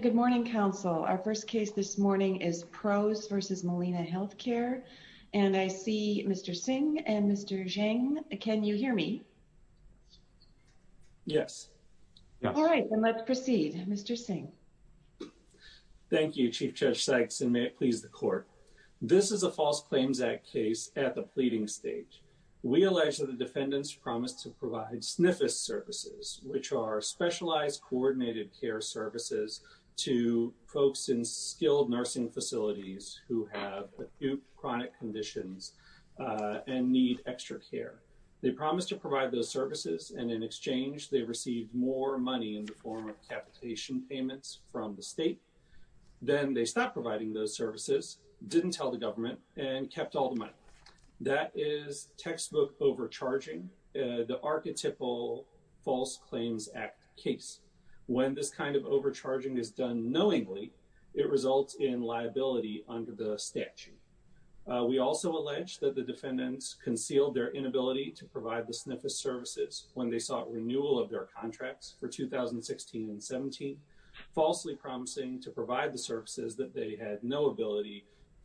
Good morning, counsel. Our first case this morning is Prose v. Molina Healthcare and I see Mr. Singh and Mr. Zhang. Can you hear me? Yes. All right, then let's proceed. Mr. Singh. Thank you, Chief Judge Sykes, and may it please the court. This is a False Claims Act case at the pleading stage. We allege that the government provided uncoordinated care services to folks in skilled nursing facilities who have acute chronic conditions and need extra care. They promised to provide those services and in exchange they received more money in the form of capitation payments from the state. Then they stopped providing those services, didn't tell the government, and kept all the money. That is textbook overcharging, the archetypal False Claims Act case. When this kind of overcharging is done knowingly, it results in liability under the statute. We also allege that the defendants concealed their inability to provide the SNFIS services when they sought renewal of their contracts for 2016 and 17, falsely promising to provide the services that they had no ability to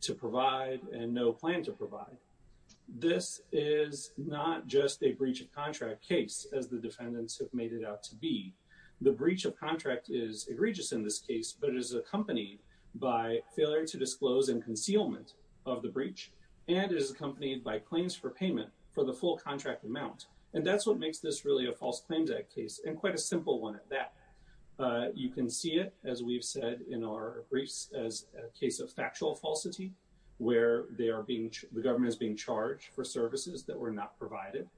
Not just a breach of contract case, as the defendants have made it out to be, the breach of contract is egregious in this case, but it is accompanied by failure to disclose and concealment of the breach, and is accompanied by claims for payment for the full contract amount. And that's what makes this really a False Claims Act case, and quite a simple one at that. You can see it, as we've said in our briefs, as a case of factual falsity, where the government is being charged for services that were not provided,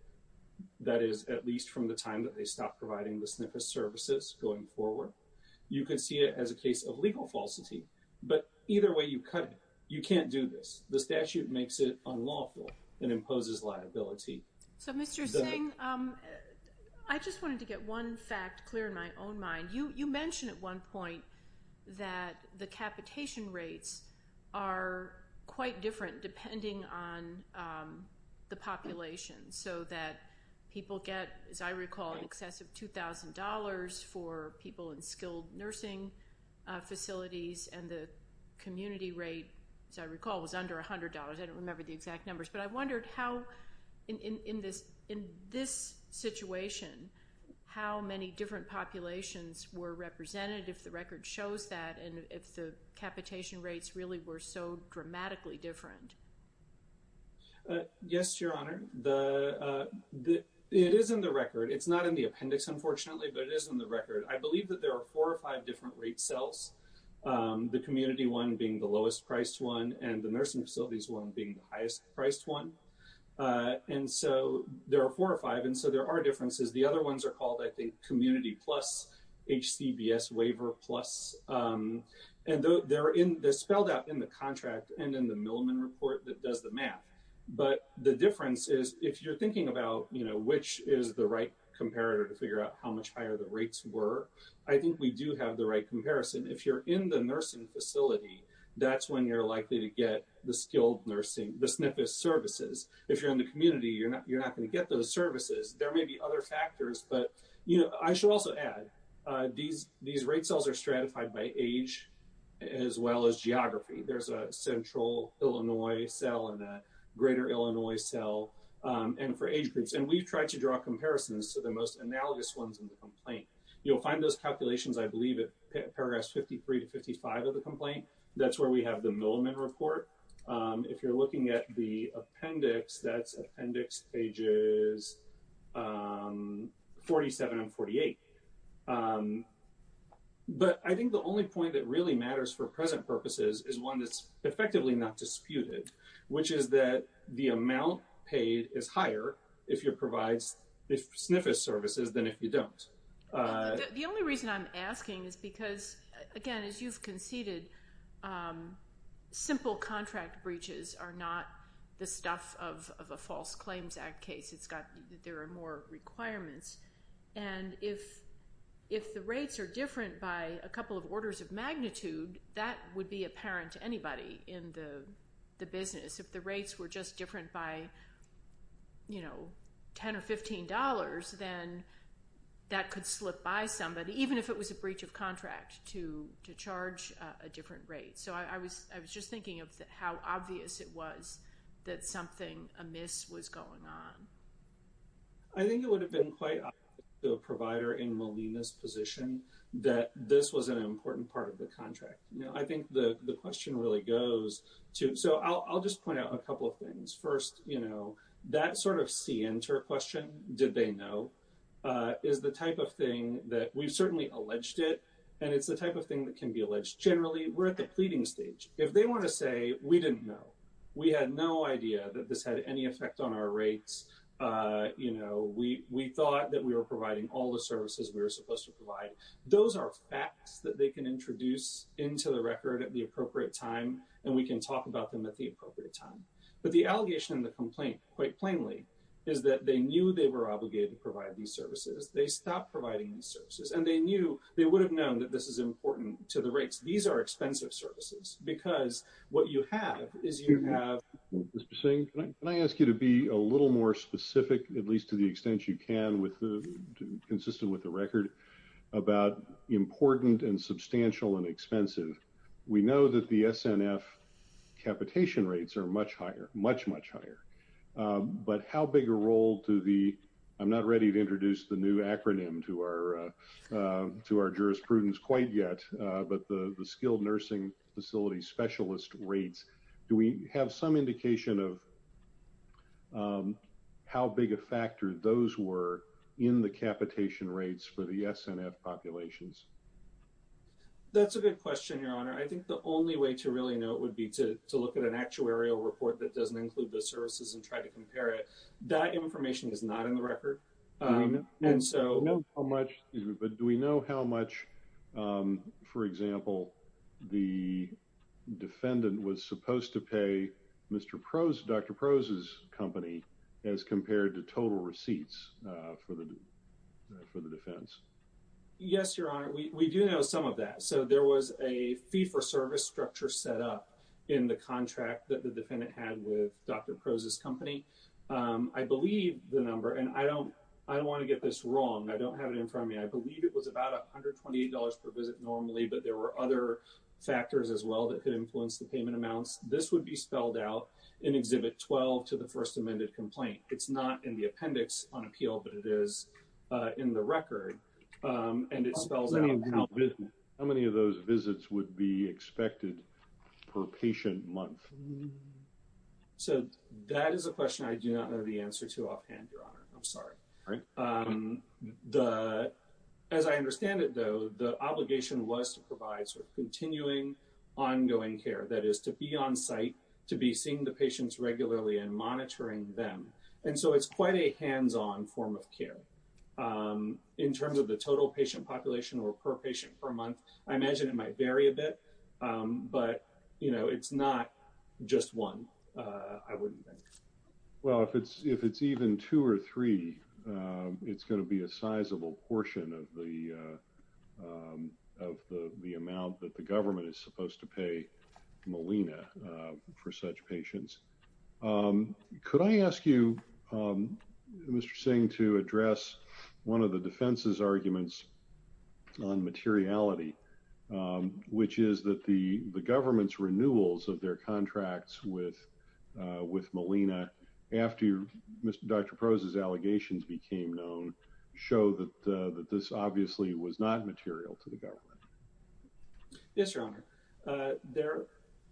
that is at least from the time that they stopped providing the SNFIS services going forward. You can see it as a case of legal falsity, but either way you cut it. You can't do this. The statute makes it unlawful and imposes liability. So Mr. Singh, I just wanted to get one fact clear in my own mind. You mentioned at one point that the capitation rates are quite different depending on the population, so that people get, as I recall, in excess of $2,000 for people in skilled nursing facilities, and the community rate, as I recall, was under $100. I don't remember the exact numbers, but I wondered how, in this situation, how many different populations were represented if the record shows that, and if the capitation rates really were so dramatically different. Yes, Your Honor. It is in the record. It's not in the appendix, unfortunately, but it is in the record. I believe that there are four or five different rate cells, the community one being the lowest-priced one and the nursing facilities one being the highest-priced one, and so there are four or five, and so there are differences. The other ones are called, I think, CBS Waiver Plus, and they're spelled out in the contract and in the Milliman report that does the math, but the difference is, if you're thinking about which is the right comparator to figure out how much higher the rates were, I think we do have the right comparison. If you're in the nursing facility, that's when you're likely to get the skilled nursing, the SNFIS services. If you're in the community, you're not going to get those services. There may be other reasons to add. These rate cells are stratified by age as well as geography. There's a central Illinois cell and a greater Illinois cell, and for age groups, and we've tried to draw comparisons to the most analogous ones in the complaint. You'll find those calculations, I believe, at paragraphs 53 to 55 of the complaint. That's where we have the Milliman report. If you're looking at the SNFIS services, that's where you're likely to get the most. But I think the only point that really matters for present purposes is one that's effectively not disputed, which is that the amount paid is higher if you provide SNFIS services than if you don't. The only reason I'm asking is because, again, as you've conceded, simple contract breaches are not the stuff of a False Claims Act case. There are more requirements, and if the rates are different by a couple of orders of magnitude, that would be apparent to anybody in the business. If the rates were just different by $10 or $15, then that could slip by somebody, even if it was a breach of contract, to charge a different rate. So I was just thinking of how obvious it was that something amiss was going on. I think it would have been quite obvious to a provider in Molina's position that this was an important part of the contract. I think the question really goes to, so I'll just point out a couple of things. First, that sort of see into a question, did they know, is the type of thing that we've certainly alleged it, and it's the type of thing that can be alleged. Generally, we're at the pleading stage. If they want to say, we didn't know, we had no on our rates, we thought that we were providing all the services we were supposed to provide. Those are facts that they can introduce into the record at the appropriate time, and we can talk about them at the appropriate time. But the allegation and the complaint, quite plainly, is that they knew they were obligated to provide these services. They stopped providing these services, and they knew, they would have known that this is important to the rates. These are expensive services, because what you have is you have... Mr. Singh, can I ask you to be a little more specific, at least to the extent you can, consistent with the record, about important and substantial and expensive? We know that the SNF capitation rates are much higher, much, much higher. But how big a role do the... I'm not ready to introduce the new acronym to our jurisprudence quite yet, but the skilled nursing facility specialist rates, do we have some indication of how big a factor those were in the capitation rates for the SNF populations? That's a good question, Your Honor. I think the only way to really know it would be to look at an actuarial report that doesn't include the services and try to compare it. That information is not in the record. And so... Do we know how much, for example, the defendant was supposed to pay Dr. Prose's company as compared to total receipts for the defense? Yes, Your Honor. We do know some of that. So there was a fee-for-service structure set up in the contract that the defendant had with Dr. Prose's company. I don't want to get this wrong. I don't have it in front of me. I believe it was about $128 per visit normally, but there were other factors as well that could influence the payment amounts. This would be spelled out in Exhibit 12 to the first amended complaint. It's not in the appendix on appeal, but it is in the record, and it spells out how many of those visits would be expected per patient month. So that is a question I do not know the answer to offhand, Your Honor. Sorry. As I understand it, though, the obligation was to provide sort of continuing, ongoing care. That is, to be on site, to be seeing the patients regularly and monitoring them. And so it's quite a hands-on form of care. In terms of the total patient population or per patient per month, I imagine it might vary a bit, but it's not just one, I wouldn't think. Well, if it's even two or three, it's going to be a sizable portion of the amount that the government is supposed to pay Molina for such patients. Could I ask you, Mr. Singh, to address one of the defense's arguments on materiality, which is that the government's renewals of their after Dr. Proza's allegations became known, show that this obviously was not material to the government? Yes, Your Honor.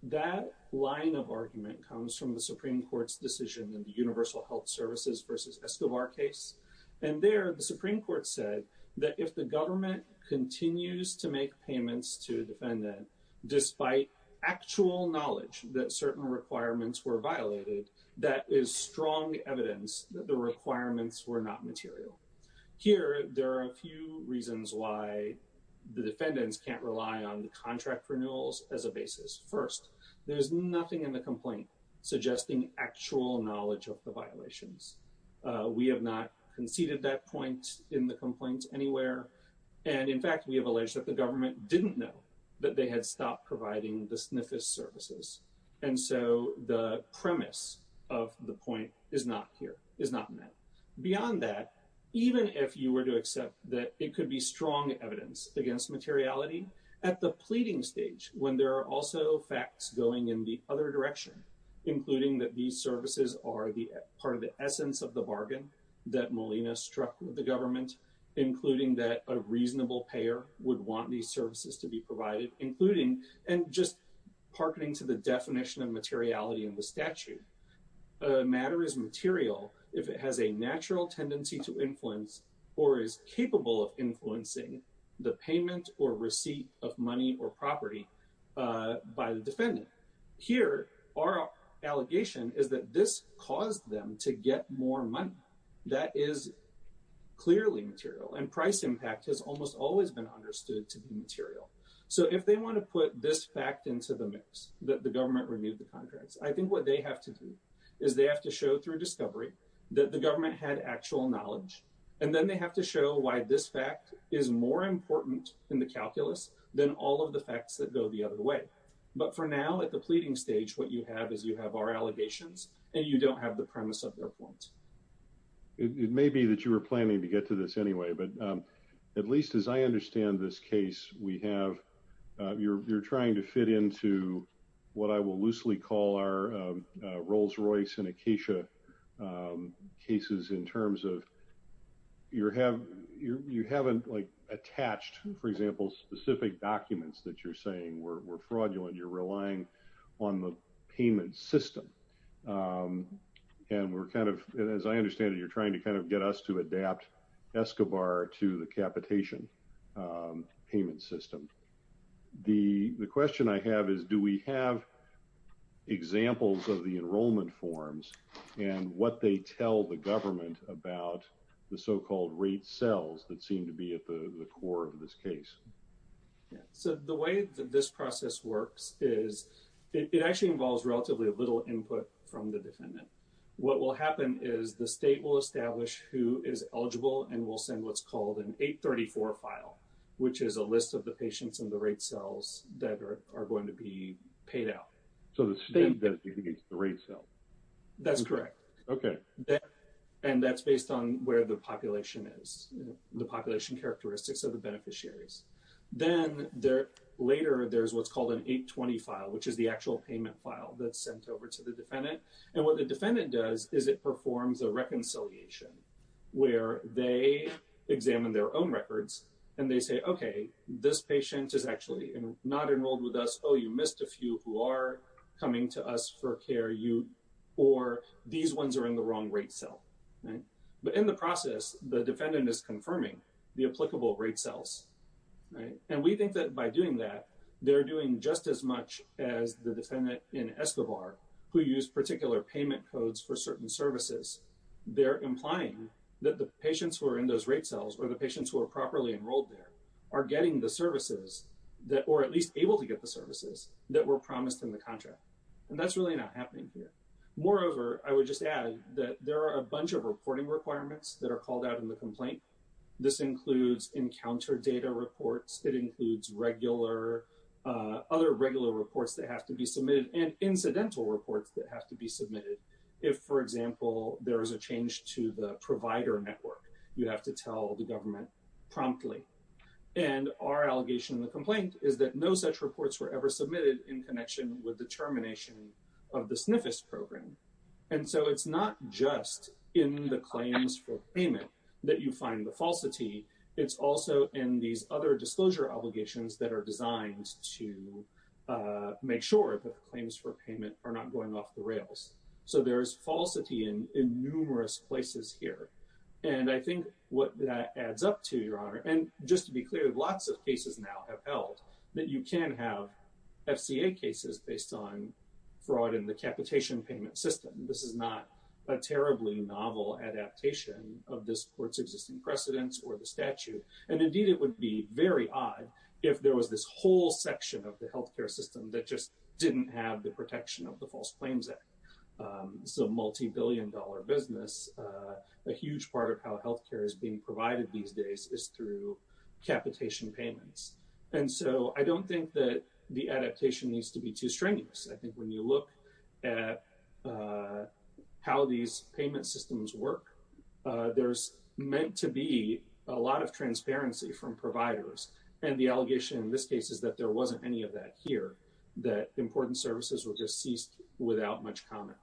That line of argument comes from the Supreme Court's decision in the Universal Health Services versus Escobar case. And there, the Supreme Court said that if the government continues to make payments to a defendant, despite actual knowledge that certain requirements were violated, that is strong evidence that the requirements were not material. Here, there are a few reasons why the defendants can't rely on the contract renewals as a basis. First, there's nothing in the complaint suggesting actual knowledge of the violations. We have not conceded that point in the complaint anywhere. And in fact, we have alleged that the government didn't know that they had stopped providing the SNFIS services. And so the premise of the point is not here, is not met. Beyond that, even if you were to accept that it could be strong evidence against materiality, at the pleading stage, when there are also facts going in the other direction, including that these services are part of the essence of the bargain that Molina struck with the government, including that a reasonable payer would want these services to be provided, and just hearkening to the definition of materiality in the statute, a matter is material if it has a natural tendency to influence or is capable of influencing the payment or receipt of money or property by the defendant. Here, our allegation is that this caused them to get more money. That is clearly material. And price impact has almost always been understood to be this fact into the mix, that the government removed the contracts. I think what they have to do is they have to show through discovery that the government had actual knowledge, and then they have to show why this fact is more important in the calculus than all of the facts that go the other way. But for now, at the pleading stage, what you have is you have our allegations, and you don't have the premise of their point. It may be that you were planning to get to this anyway, but at least as I understand it, you're trying to fit into what I will loosely call our Rolls-Royce and Acacia cases in terms of you haven't attached, for example, specific documents that you're saying were fraudulent. You're relying on the payment system. And as I understand it, you're trying to kind of get us to adapt Escobar to the capitation payment system. The question I have is, do we have examples of the enrollment forms and what they tell the government about the so-called rate cells that seem to be at the core of this case? So the way that this process works is it actually involves relatively little input from the defendant. What will happen is the state will establish who is eligible, and we'll send what's called an 834 file, which is a list of the patients and the rate cells that are going to be paid out. So the state benefits against the rate cell? That's correct. And that's based on where the population is, the population characteristics of the beneficiaries. Then later, there's what's called an 820 file, which is the actual payment file that's sent over to the defendant. And what the defendant does is it performs a reconciliation where they examine their own records, and they say, OK, this patient is actually not enrolled with us. Oh, you missed a few who are coming to us for care. Or these ones are in the wrong rate cell. But in the process, the defendant is confirming the applicable rate cells. And we think that by doing that, they're doing just as much as the defendant in certain services. They're implying that the patients who are in those rate cells or the patients who are properly enrolled there are getting the services or at least able to get the services that were promised in the contract. And that's really not happening here. Moreover, I would just add that there are a bunch of reporting requirements that are called out in the complaint. This includes encounter data reports. It includes other regular reports that have to be for example, there is a change to the provider network. You have to tell the government promptly. And our allegation in the complaint is that no such reports were ever submitted in connection with the termination of the SNFIS program. And so it's not just in the claims for payment that you find the falsity. It's also in these other disclosure obligations that are designed to make sure that the in numerous places here. And I think what that adds up to, Your Honor, and just to be clear, lots of cases now have held that you can have FCA cases based on fraud in the capitation payment system. This is not a terribly novel adaptation of this court's existing precedents or the statute. And indeed, it would be very odd if there was this whole section of the health care system that just didn't have the protection of the False Claims Act. So multi-billion dollar business, a huge part of how health care is being provided these days is through capitation payments. And so I don't think that the adaptation needs to be too strenuous. I think when you look at how these payment systems work, there's meant to be a lot of transparency from providers. And the allegation in this case is that there wasn't any of that here, that important services were just ceased without much comment.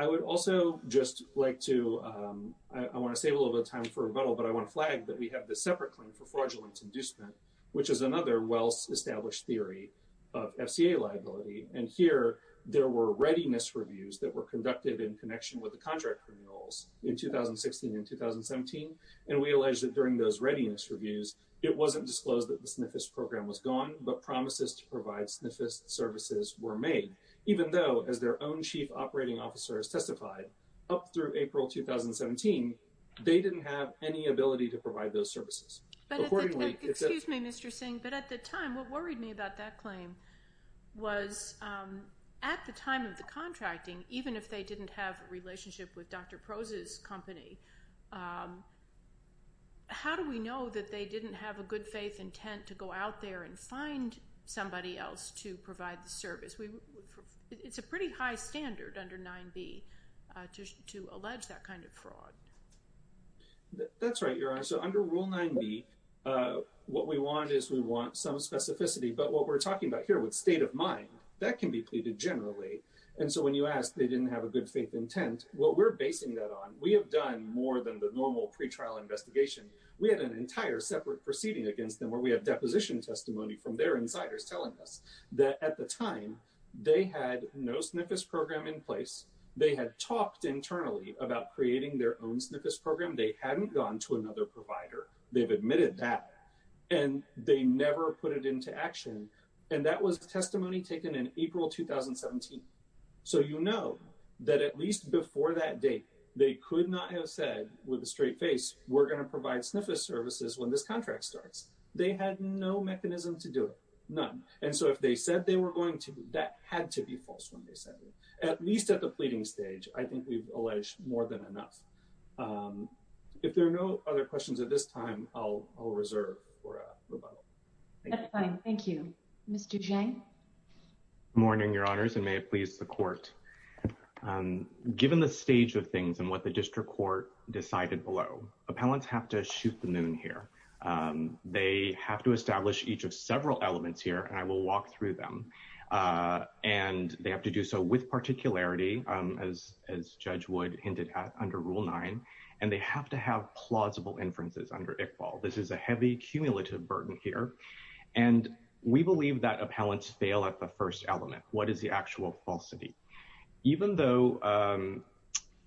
I would also just like to, I want to save a little bit of time for rebuttal, but I want to flag that we have this separate claim for fraudulence inducement, which is another well-established theory of FCA liability. And here, there were readiness reviews that were conducted in connection with the contract criminals in 2016 and 2017. And we allege that during those readiness reviews, it wasn't disclosed that the SNFist program was gone, but promises to provide SNFist services were made, even though, as their own chief operating officer has testified, up through April 2017, they didn't have any ability to provide those services. But at the time, excuse me, Mr. Singh, but at the time, what worried me about that claim was at the time of the contracting, even if they didn't have a good faith intent, how do we know that they didn't have a good faith intent to go out there and find somebody else to provide the service? It's a pretty high standard under 9b to allege that kind of fraud. That's right, Your Honor. So under Rule 9b, what we want is we want some specificity. But what we're talking about here with state of mind, that can be pleaded generally. And so when you ask, they didn't have a good faith intent, what we're basing that on, we have done more than the normal pretrial investigation. We had an entire separate proceeding against them where we have deposition testimony from their insiders telling us that at the time, they had no SNFist program in place. They had talked internally about creating their own SNFist program. They hadn't gone to another provider. They've admitted that. And they never put it into action. And that was testimony taken in April 2017. So you know that at least before that date, they could not have said with a straight face, we're going to provide SNFist services when this contract starts. They had no mechanism to do it, none. And so if they said they were going to, that had to be false when they said it. At least at the pleading stage, I think we've alleged more than enough. If there are no other questions at this time, I'll reserve for a rebuttal. That's fine, thank you. Mr. Zhang? Good morning, Your Honors, and may it please the Court. Given the stage of things and what the district court decided below, appellants have to shoot the moon here. They have to establish each of several elements here, and I will walk through them. And they have to do so with particularity, as Judge Wood hinted at under Rule 9. And they have to have plausible inferences under Iqbal. This is a heavy cumulative burden here. And we know,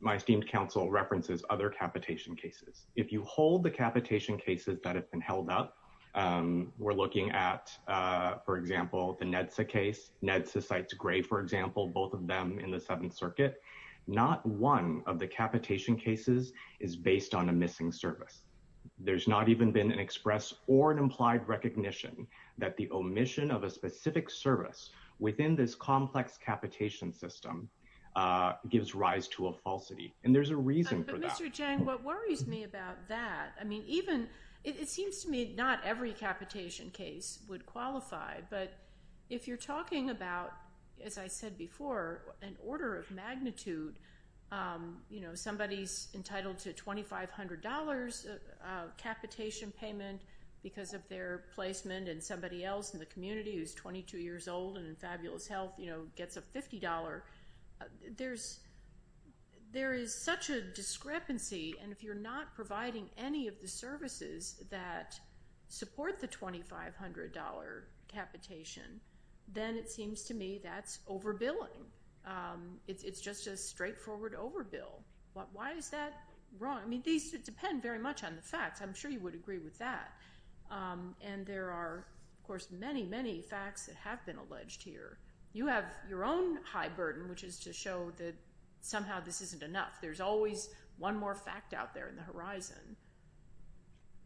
my esteemed counsel references other capitation cases. If you hold the capitation cases that have been held up, we're looking at, for example, the NEDSA case. NEDSA cites Gray, for example, both of them in the Seventh Circuit. Not one of the capitation cases is based on a missing service. There's not even been an express or an implied recognition that the omission of a gives rise to a falsity. And there's a reason for that. But Mr. Zhang, what worries me about that, I mean, even, it seems to me not every capitation case would qualify. But if you're talking about, as I said before, an order of magnitude, you know, somebody's entitled to $2,500 capitation payment because of their placement, and somebody else in the community who's 22 years old and in fabulous health, you know, gets a $50, there is such a discrepancy. And if you're not providing any of the services that support the $2,500 capitation, then it seems to me that's overbilling. It's just a straightforward overbill. Why is that wrong? I mean, these depend very much on the facts. I'm sure you would agree with that. And there are, of course, many, many facts that have been alleged here. You have your own high burden, which is to show that somehow this isn't enough. There's always one more fact out there in the horizon.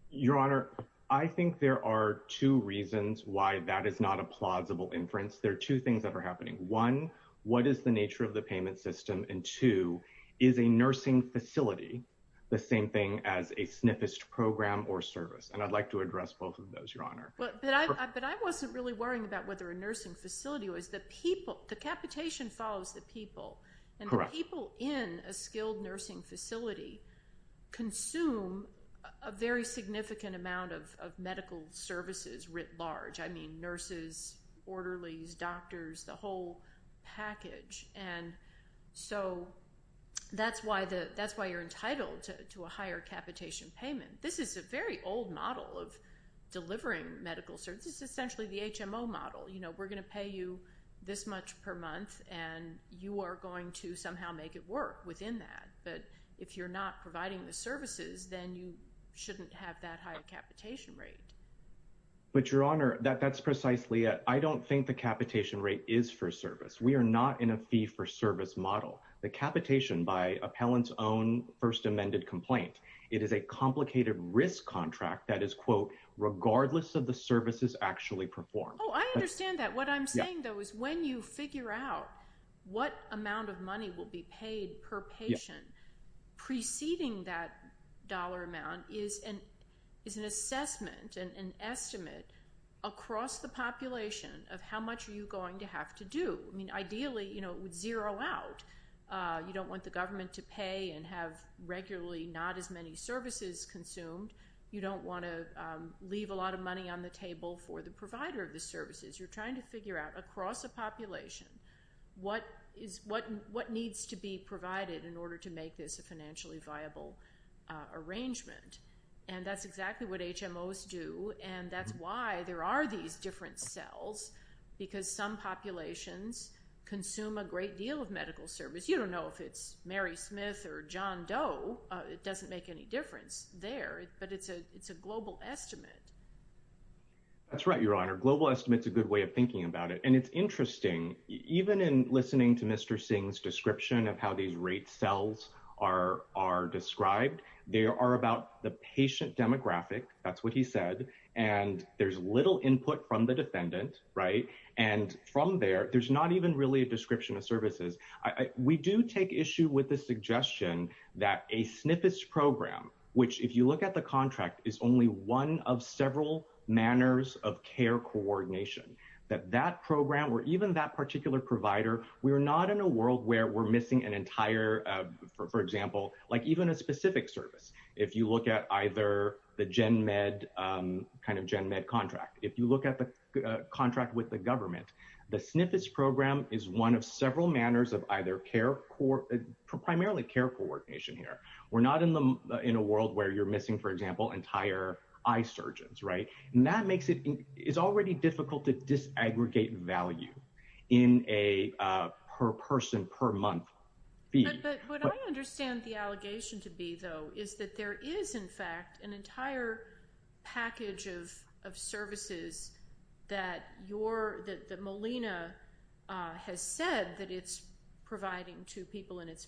Your Honor, I think there are two reasons why that is not a plausible inference. There are two things that are happening. One, what is the nature of the payment system? And two, is a nursing facility the same thing as a SNFist program or service? And I'd like to address both of those, Your Honor. But I wasn't really worrying about whether a nursing facility was the people. The capitation follows the people. And the people in a skilled nursing facility consume a very significant amount of medical services writ large. I mean, nurses, orderlies, doctors, the whole package. And so that's why you're entitled to a higher capitation payment. This is a very old model of delivering medical services. It's essentially the HMO model. You know, we're going to pay you this much per month, and you are going to somehow make it work within that. But if you're not providing the services, then you shouldn't have that high a capitation rate. But, Your Honor, that's precisely it. I don't think the capitation rate is for service. We are not in a fee-for-service model. The capitation, by appellant's own first amended complaint, it is a complicated risk contract that is, quote, regardless of the services actually performed. Oh, I understand that. What I'm saying, though, is when you figure out what amount of money will be paid per patient preceding that dollar amount is an assessment and an estimate across the population of how much are you going to have to do. I mean, ideally, it would zero out. You don't want the government to pay and have regularly not as many services consumed. You don't want to leave a lot of money on the table for the provider of the services. You're trying to figure out across a population what needs to be provided in order to make this a financially viable arrangement. And that's exactly what HMOs do, and that's why there are these different cells, because some populations consume a great deal of medical service. You don't know if it's Mary Smith or John Doe. It doesn't make any sense to me. I mean, it's a global estimate. That's right, Your Honor. Global estimate's a good way of thinking about it. And it's interesting, even in listening to Mr. Singh's description of how these rate cells are described. They are about the patient demographic. That's what he said. And there's little input from the defendant. Right. And from there, there's not even really a description of services. We do take issue with the suggestion that a SNF program, which if you look at the SNF program, is one of several manners of care coordination, that that program or even that particular provider, we are not in a world where we're missing an entire, for example, like even a specific service. If you look at either the GenMed, kind of GenMed contract, if you look at the contract with the government, the SNF program is one of several manners of either care, primarily care coordination here. We're not in a world where you're missing, for example, entire surgeons. Right. And that makes it is already difficult to disaggregate value in a per person, per month. But what I understand the allegation to be, though, is that there is, in fact, an entire package of of services that you're that Molina has said that it's providing to people in its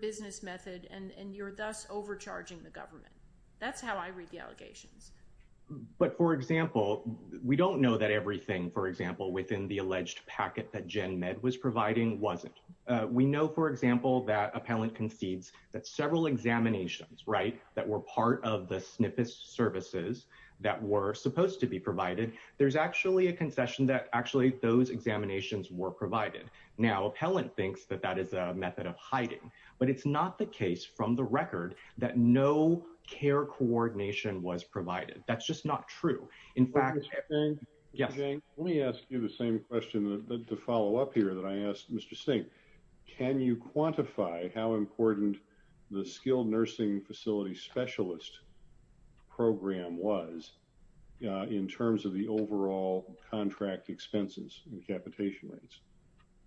business method and you're thus overcharging the government. That's how I read the allegations. But for example, we don't know that everything, for example, within the alleged packet that GenMed was providing wasn't. We know, for example, that appellant concedes that several examinations, right, that were part of the SNF services that were supposed to be provided. There's actually a concession that actually those examinations were provided. Now, appellant thinks that that is a but it's not the case from the record that no care coordination was provided. That's just not true. In fact, yes, let me ask you the same question to follow up here that I asked Mr. Singh. Can you quantify how important the skilled nursing facility specialist program was in terms of the overall contract expenses and capitation rates?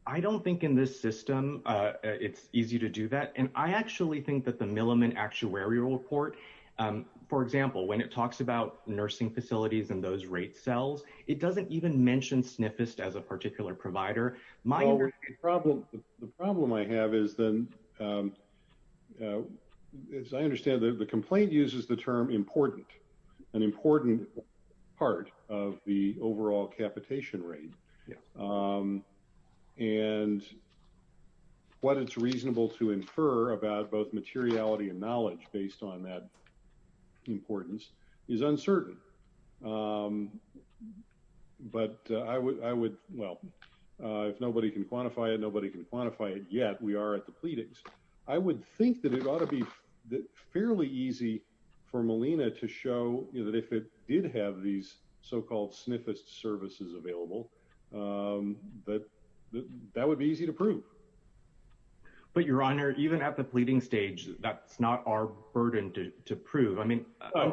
I don't think in this system it's easy to do that. And I actually think that the Milliman actuarial report, for example, when it talks about nursing facilities and those rate cells, it doesn't even mention SNFist as a particular provider. My problem, the problem I have is then as I understand that the complaint uses the term important, an important part of the overall capitation rate. And what it's reasonable to infer about both materiality and knowledge based on that importance is uncertain. But I would, well, if nobody can quantify it, nobody can quantify it yet. We are at the pleadings. I would think it ought to be fairly easy for Molina to show that if it did have these so-called SNFist services available, that that would be easy to prove. But your honor, even at the pleading stage, that's not our burden to prove. I mean, I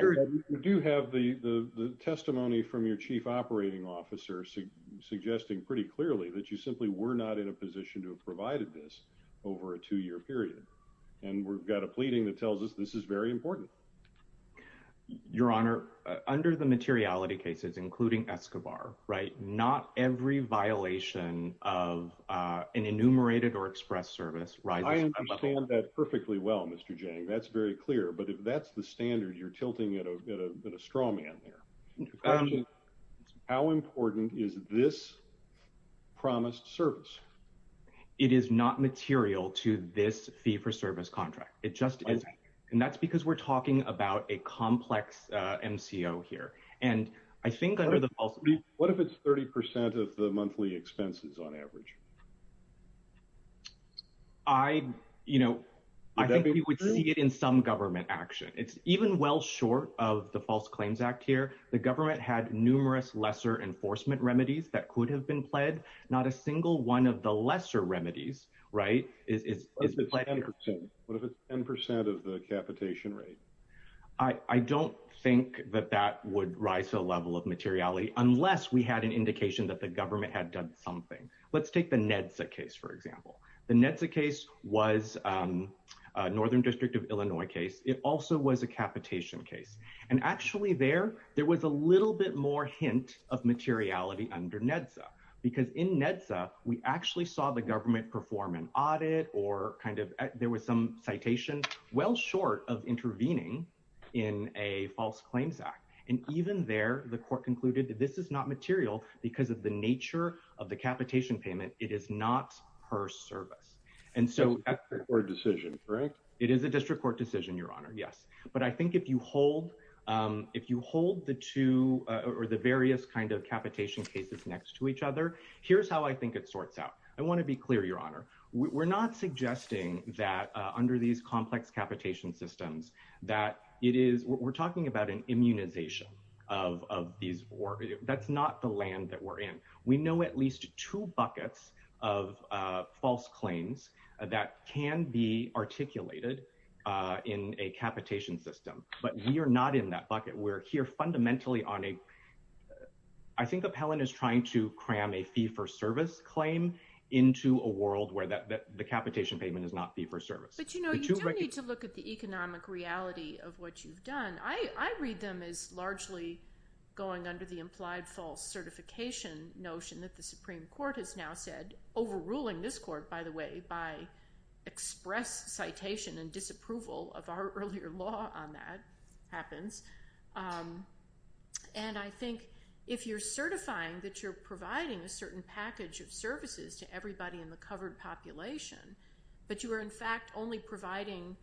do have the testimony from your chief operating officer suggesting pretty clearly that you simply were not in a position to have provided this over a two-year period. And we've got a pleading that tells us this is very important. Your honor, under the materiality cases, including Escobar, right, not every violation of an enumerated or express service rises to that level. I understand that perfectly well, Mr. Jang. That's very clear. But if that's the standard, you're tilting at a straw man there. How important is this promised service? It is not material to this fee for service contract. It just isn't. And that's because we're talking about a complex MCO here. And I think under the false... What if it's 30% of the monthly expenses on average? I, you know, I think we would see it in some government action. It's even well short of the numerous lesser enforcement remedies that could have been pled. Not a single one of the lesser remedies, right, is pled here. What if it's 10% of the capitation rate? I don't think that that would rise to a level of materiality unless we had an indication that the government had done something. Let's take the NEDSA case, for example. The NEDSA case was a Northern District of Illinois case. It also was a capitation case. And actually there, there was a little bit more hint of materiality under NEDSA. Because in NEDSA, we actually saw the government perform an audit or kind of there was some citation well short of intervening in a false claims act. And even there, the court concluded that this is not material because of the nature of the capitation payment. It is not per service. And so... It's a district court decision, correct? But I think if you hold the two or the various kind of capitation cases next to each other, here's how I think it sorts out. I want to be clear, Your Honor. We're not suggesting that under these complex capitation systems, that it is... We're talking about an immunization of these... That's not the land that we're in. We know at least two buckets of false claims that can be articulated in a capitation system. But we are not in that bucket. We're here fundamentally on a... I think Appellant is trying to cram a fee-for-service claim into a world where the capitation payment is not fee-for-service. But you do need to look at the economic reality of what you've done. I read them as largely going under the implied false certification notion that the Supreme Court has now said, overruling this court, by the way, by express citation and disapproval of our earlier law on that happens. And I think if you're certifying that you're providing a certain package of services to everybody in the covered population, but you are in fact only providing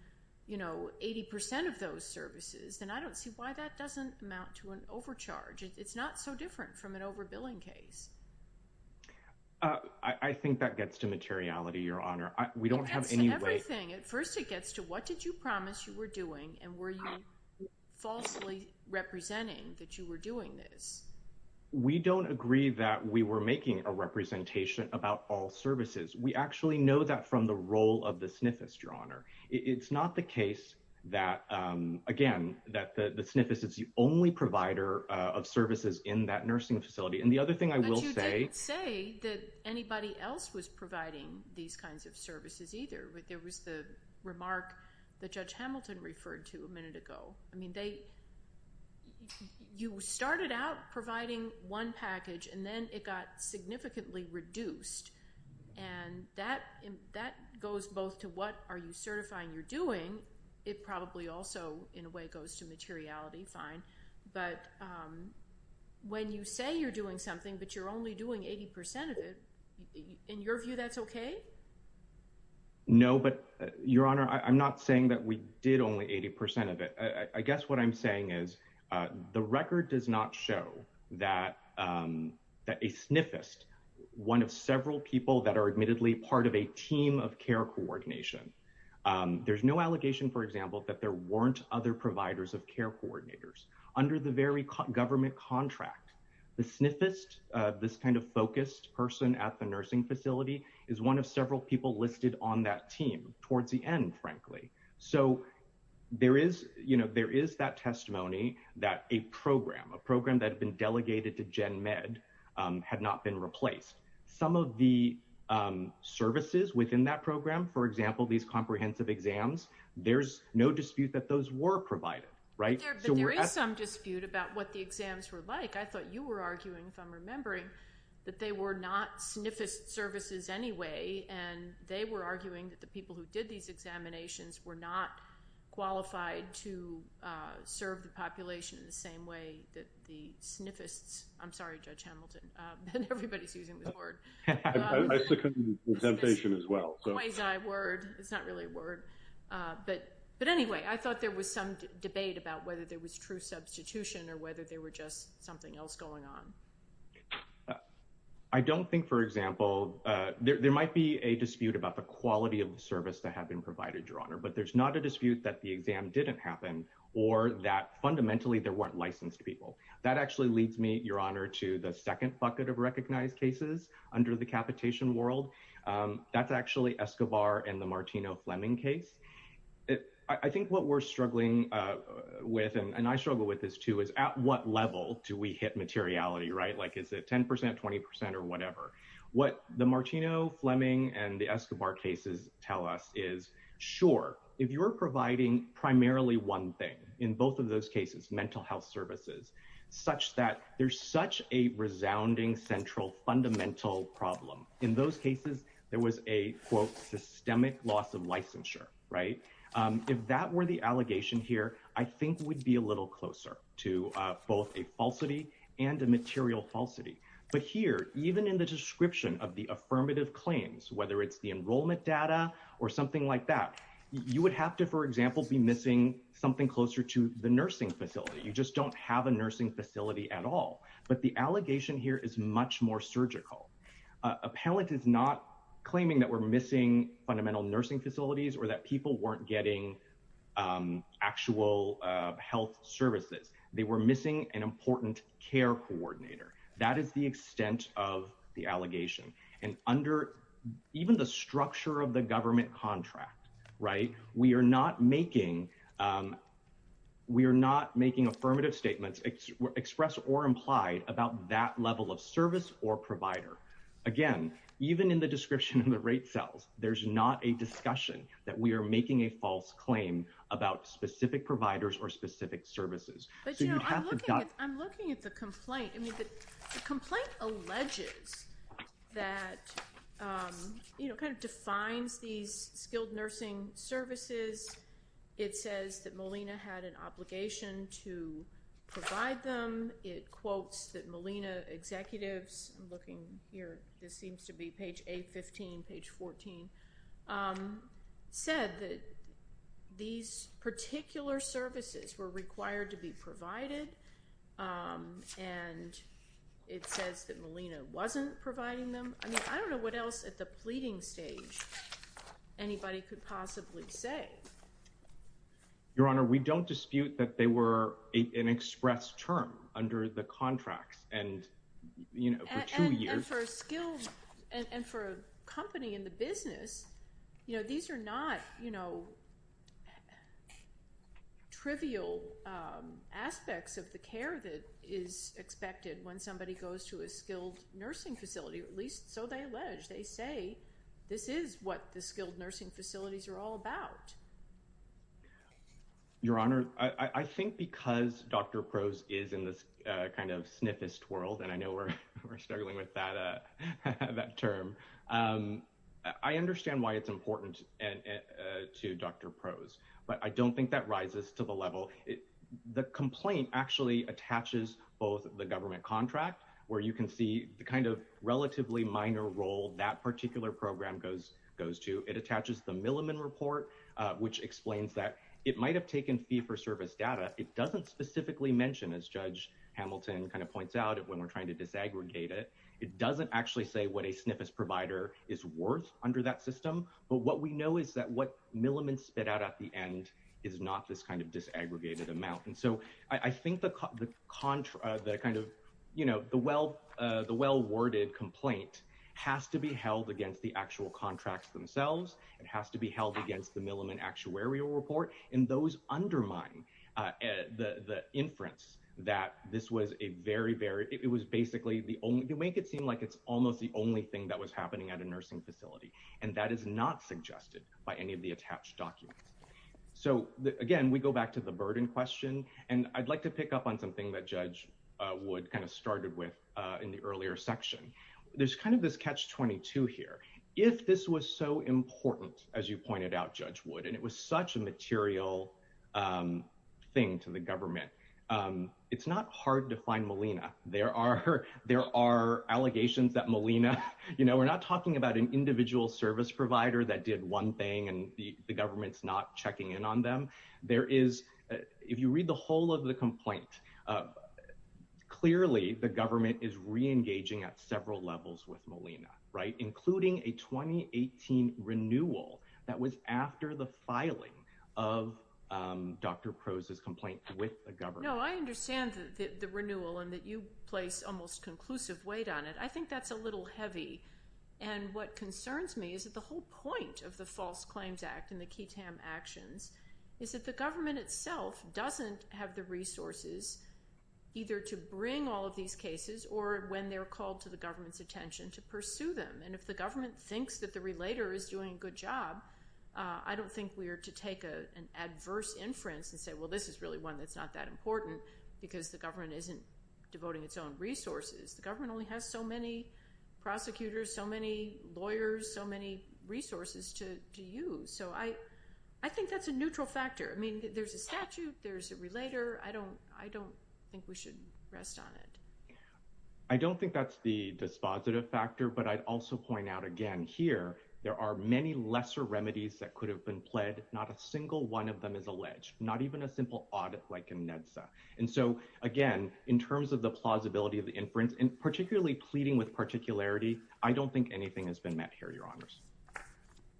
80% of those services, then I don't see why that doesn't amount to an overcharge. It's not so different from an over-billing case. I think that gets to materiality, Your Honor. We don't have any way- It gets to everything. At first, it gets to what did you promise you were doing, and were you falsely representing that you were doing this? We don't agree that we were making a representation about all services. We actually know that from the role of the SNFIS, Your Honor. It's not the case that, again, that the SNFIS is the only provider of services in that nursing facility. And the other thing I will say- But you didn't say that anybody else was providing these kinds of services either. There was the remark that Judge Hamilton referred to a minute ago. I mean, you started out providing one package, and then it got significantly reduced. And that goes both to what are you certifying you're doing. It probably also, in a way, goes to materiality. Fine. But when you say you're doing something, but you're only doing 80% of it, in your view, that's okay? No, but, Your Honor, I'm not saying that we did only 80% of it. I guess what I'm saying is the record does not show that a SNFIS, one of several people that are admittedly part of a team of care coordination, there's no allegation, for example, that there weren't other providers of care coordinators under the very government contract. The SNFIS, this kind of focused person at the nursing facility, is one of several people listed on that team towards the end, frankly. So, there is that testimony that a program, a program that had been delegated to GenMed had not been replaced. Some of the services within that program, for example, these comprehensive exams, there's no dispute that those were provided, right? But there is some dispute about what the exams were like. I thought you were arguing, if I'm remembering, that they were not SNFIS services anyway, and they were arguing that the people who did these examinations were not qualified to serve the population in the same way that the SNFIS, I'm sorry, Judge Hamilton, and everybody's using this word. I succumb to the temptation as well. It's a quasi-word. It's not really a word. But anyway, I thought there was some debate about whether there was true substitution or whether there were just something else going on. I don't think, for example, there might be a dispute about the quality of the service that had been provided, Your Honor, but there's not a dispute that the exam didn't happen or that fundamentally there weren't licensed people. That actually leads me, Your Honor, to the second bucket of recognized cases under the capitation world. That's actually Escobar and the Martino-Fleming case. I think what we're struggling with, and I struggle with this too, is at what level do we hit materiality, right? Is it 10%, 20% or whatever? What the Martino-Fleming and the Escobar cases tell us is, sure, if you're providing primarily one thing, in both of those cases, mental health services, such that there's such a resounding, central, fundamental problem, in those cases, there was a, quote, systemic loss of licensure, right? If that were the allegation here, I think we'd be a little closer to both a falsity and a material falsity. But here, even in the description of the affirmative claims, whether it's the enrollment data or something like that, you would have to, for example, be missing something closer to the nursing facility. You just don't have a nursing facility at all. But the allegation here is much more surgical. Appellant is not claiming that we're missing fundamental nursing facilities or that people weren't getting actual health services. They were missing an important care coordinator. That is the extent of the allegation. And under even the structure of the government contract, right, we are not making affirmative statements expressed or implied about that level of service or provider. Again, even in the description of the rate cells, there's not a discussion that we are making a false claim about specific providers or specific services. But, you know, I'm looking at the complaint. I mean, the complaint alleges that, you know, kind of defines these skilled nursing services. It says that Molina had an obligation to provide them. It quotes that Molina executives, I'm looking here, this seems to be page 815, page 14, said that these particular services were required to be provided. And it says that Molina wasn't providing them. I mean, I don't know what else at the pleading stage anybody could possibly say. Your Honor, we don't dispute that they were an express term under the contracts and, you know, for two years. And for a company in the business, you know, these are not, you know, trivial aspects of the care that is expected when somebody goes to a skilled nursing facility, at least so they allege. They say this is what the skilled nursing facilities are all about. Your Honor, I think because Dr. Prose is in this kind of sniffest world, and I know we're struggling with that term, I understand why it's important to Dr. Prose. But I don't think that rises to the level. The complaint actually attaches both the government contract, where you can see the kind of relatively minor role that particular program goes to. It attaches the Milliman report, which explains that it might have taken fee-for-service data. It doesn't specifically mention, as Judge Hamilton kind of points out, when we're trying to disaggregate it, it doesn't actually say what a sniffest provider is worth under that system. But what we know is that what Milliman spit out at the end is not this kind of disaggregated amount. And so I think the kind of, you know, the well-worded complaint has to be held against the actual contracts themselves. It has to be held against the Milliman actuarial report. And those undermine the inference that this was a very, very, it was basically the only, to make it seem like it's almost the only thing that was happening at a nursing facility. And that is not suggested by any of the attached documents. So again, we go back to the burden question. And I'd like to pick up on something that Judge Wood kind of started with in the earlier section. There's kind of this catch-22 here. If this was so important, as you pointed out, Judge Wood, and it was such a material thing to the government, it's not hard to find Molina. There are allegations that Molina, you know, we're not talking about an individual service provider that did one thing and the government's not checking in on them. There is, if you read the whole of the complaint, clearly the government is re-engaging at several levels with Molina, right? Including a 2018 renewal that was after the filing of Dr. Crow's complaint with the government. No, I understand that the renewal and that you place almost conclusive weight on it. I think that's a little heavy. And what concerns me is that the whole point of the False Claims and the KTAM actions is that the government itself doesn't have the resources either to bring all of these cases or, when they're called to the government's attention, to pursue them. And if the government thinks that the relator is doing a good job, I don't think we are to take an adverse inference and say, well, this is really one that's not that important because the government isn't devoting its own resources. The government only has so many prosecutors, so many lawyers, so many resources to use. So I think that's a neutral factor. I mean, there's a statute, there's a relator. I don't think we should rest on it. I don't think that's the dispositive factor, but I'd also point out again here, there are many lesser remedies that could have been pled. Not a single one of them is alleged, not even a simple audit like a NEDSA. And so, again, in terms of the plausibility of the I don't think anything has been met here, Your Honors.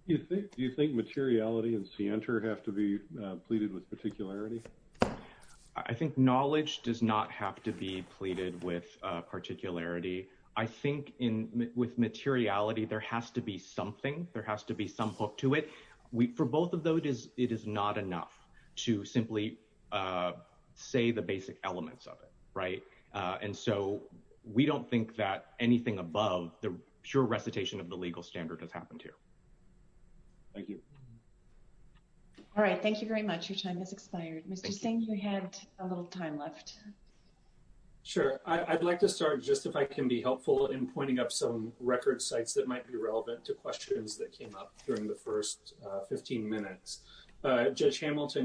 Do you think materiality and scienter have to be pleaded with particularity? I think knowledge does not have to be pleaded with particularity. I think with materiality, there has to be something, there has to be some hook to it. For both of those, it is not enough to simply say the basic elements of it, right? And so we don't think that anything above the pure recitation of the legal standard has happened here. Thank you. All right. Thank you very much. Your time has expired. Mr. Singh, you had a little time left. Sure. I'd like to start just if I can be helpful in pointing up some record sites that might be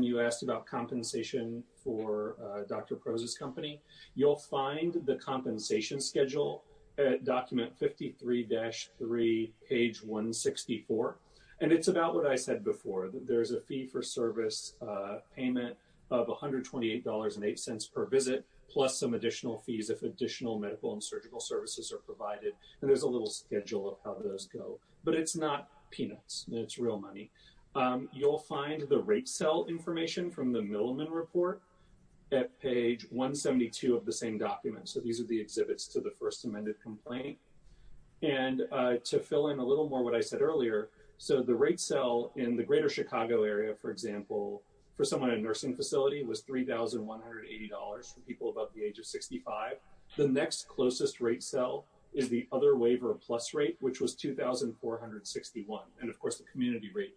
you asked about compensation for Dr. Proz's company. You'll find the compensation schedule at document 53-3, page 164. And it's about what I said before, that there's a fee for service payment of $128.08 per visit, plus some additional fees if additional medical and surgical services are provided. And there's a little schedule of how those go, but it's not peanuts. It's real money. You'll find the rate cell information from the Middleman report at page 172 of the same document. So these are the exhibits to the first amended complaint. And to fill in a little more what I said earlier, so the rate cell in the greater Chicago area, for example, for someone in a nursing facility was $3,180 for people above the age of 65. The next closest rate cell is the other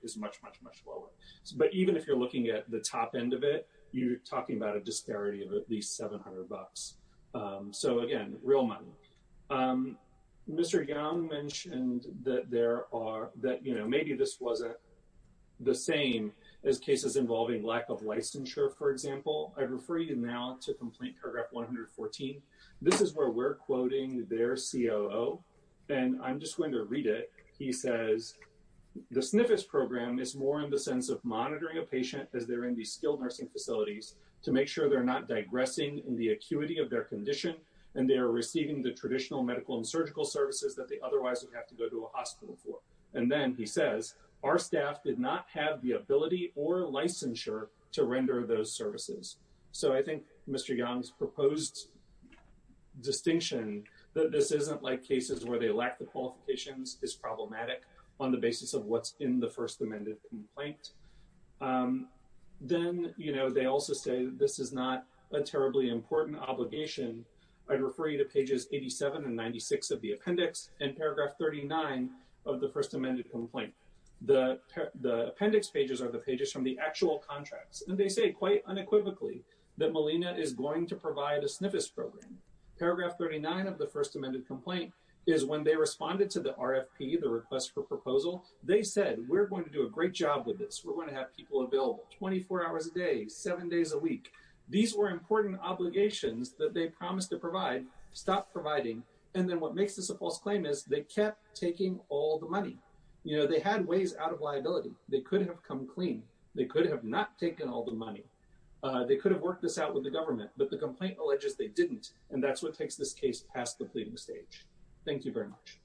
is much, much, much lower. But even if you're looking at the top end of it, you're talking about a disparity of at least $700. So again, real money. Mr. Young mentioned that there are that, you know, maybe this wasn't the same as cases involving lack of licensure, for example. I refer you now to complaint paragraph 114. This is where we're quoting their COO. And I'm just going to read it. He says, the SNFIS program is more in the sense of monitoring a patient as they're in these skilled nursing facilities to make sure they're not digressing in the acuity of their condition. And they are receiving the traditional medical and surgical services that they otherwise would have to go to a hospital for. And then he says, our staff did not have the ability or licensure to render those services. So I think Mr. Young's proposed distinction that this isn't like cases where they lack the qualifications is problematic on the basis of what's in the first amended complaint. Then, you know, they also say this is not a terribly important obligation. I'd refer you to pages 87 and 96 of the appendix and paragraph 39 of the first amended complaint. The appendix pages are the pages from the actual contracts. And they say quite unequivocally that Molina is going to provide a SNFIS program. Paragraph 39 of the first amended complaint is when they responded to the RFP, the request for proposal, they said, we're going to do a great job with this. We're going to have people available 24 hours a day, seven days a week. These were important obligations that they promised to provide, stop providing. And then what makes this a false claim is they kept taking all the money. You know, they had ways out of liability. They could have come clean. They could have not taken all the money. They could have worked this out with the government, but the complaint alleges they didn't. And that's what takes this case past the pleading stage. Thank you very much.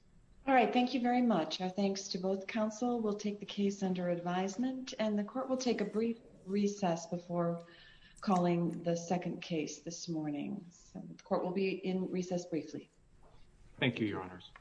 All right. Thank you very much. Our thanks to both counsel. We'll take the case under advisement and the court will take a brief recess before calling the second case this morning. Court will be in recess briefly. Thank you, your honors.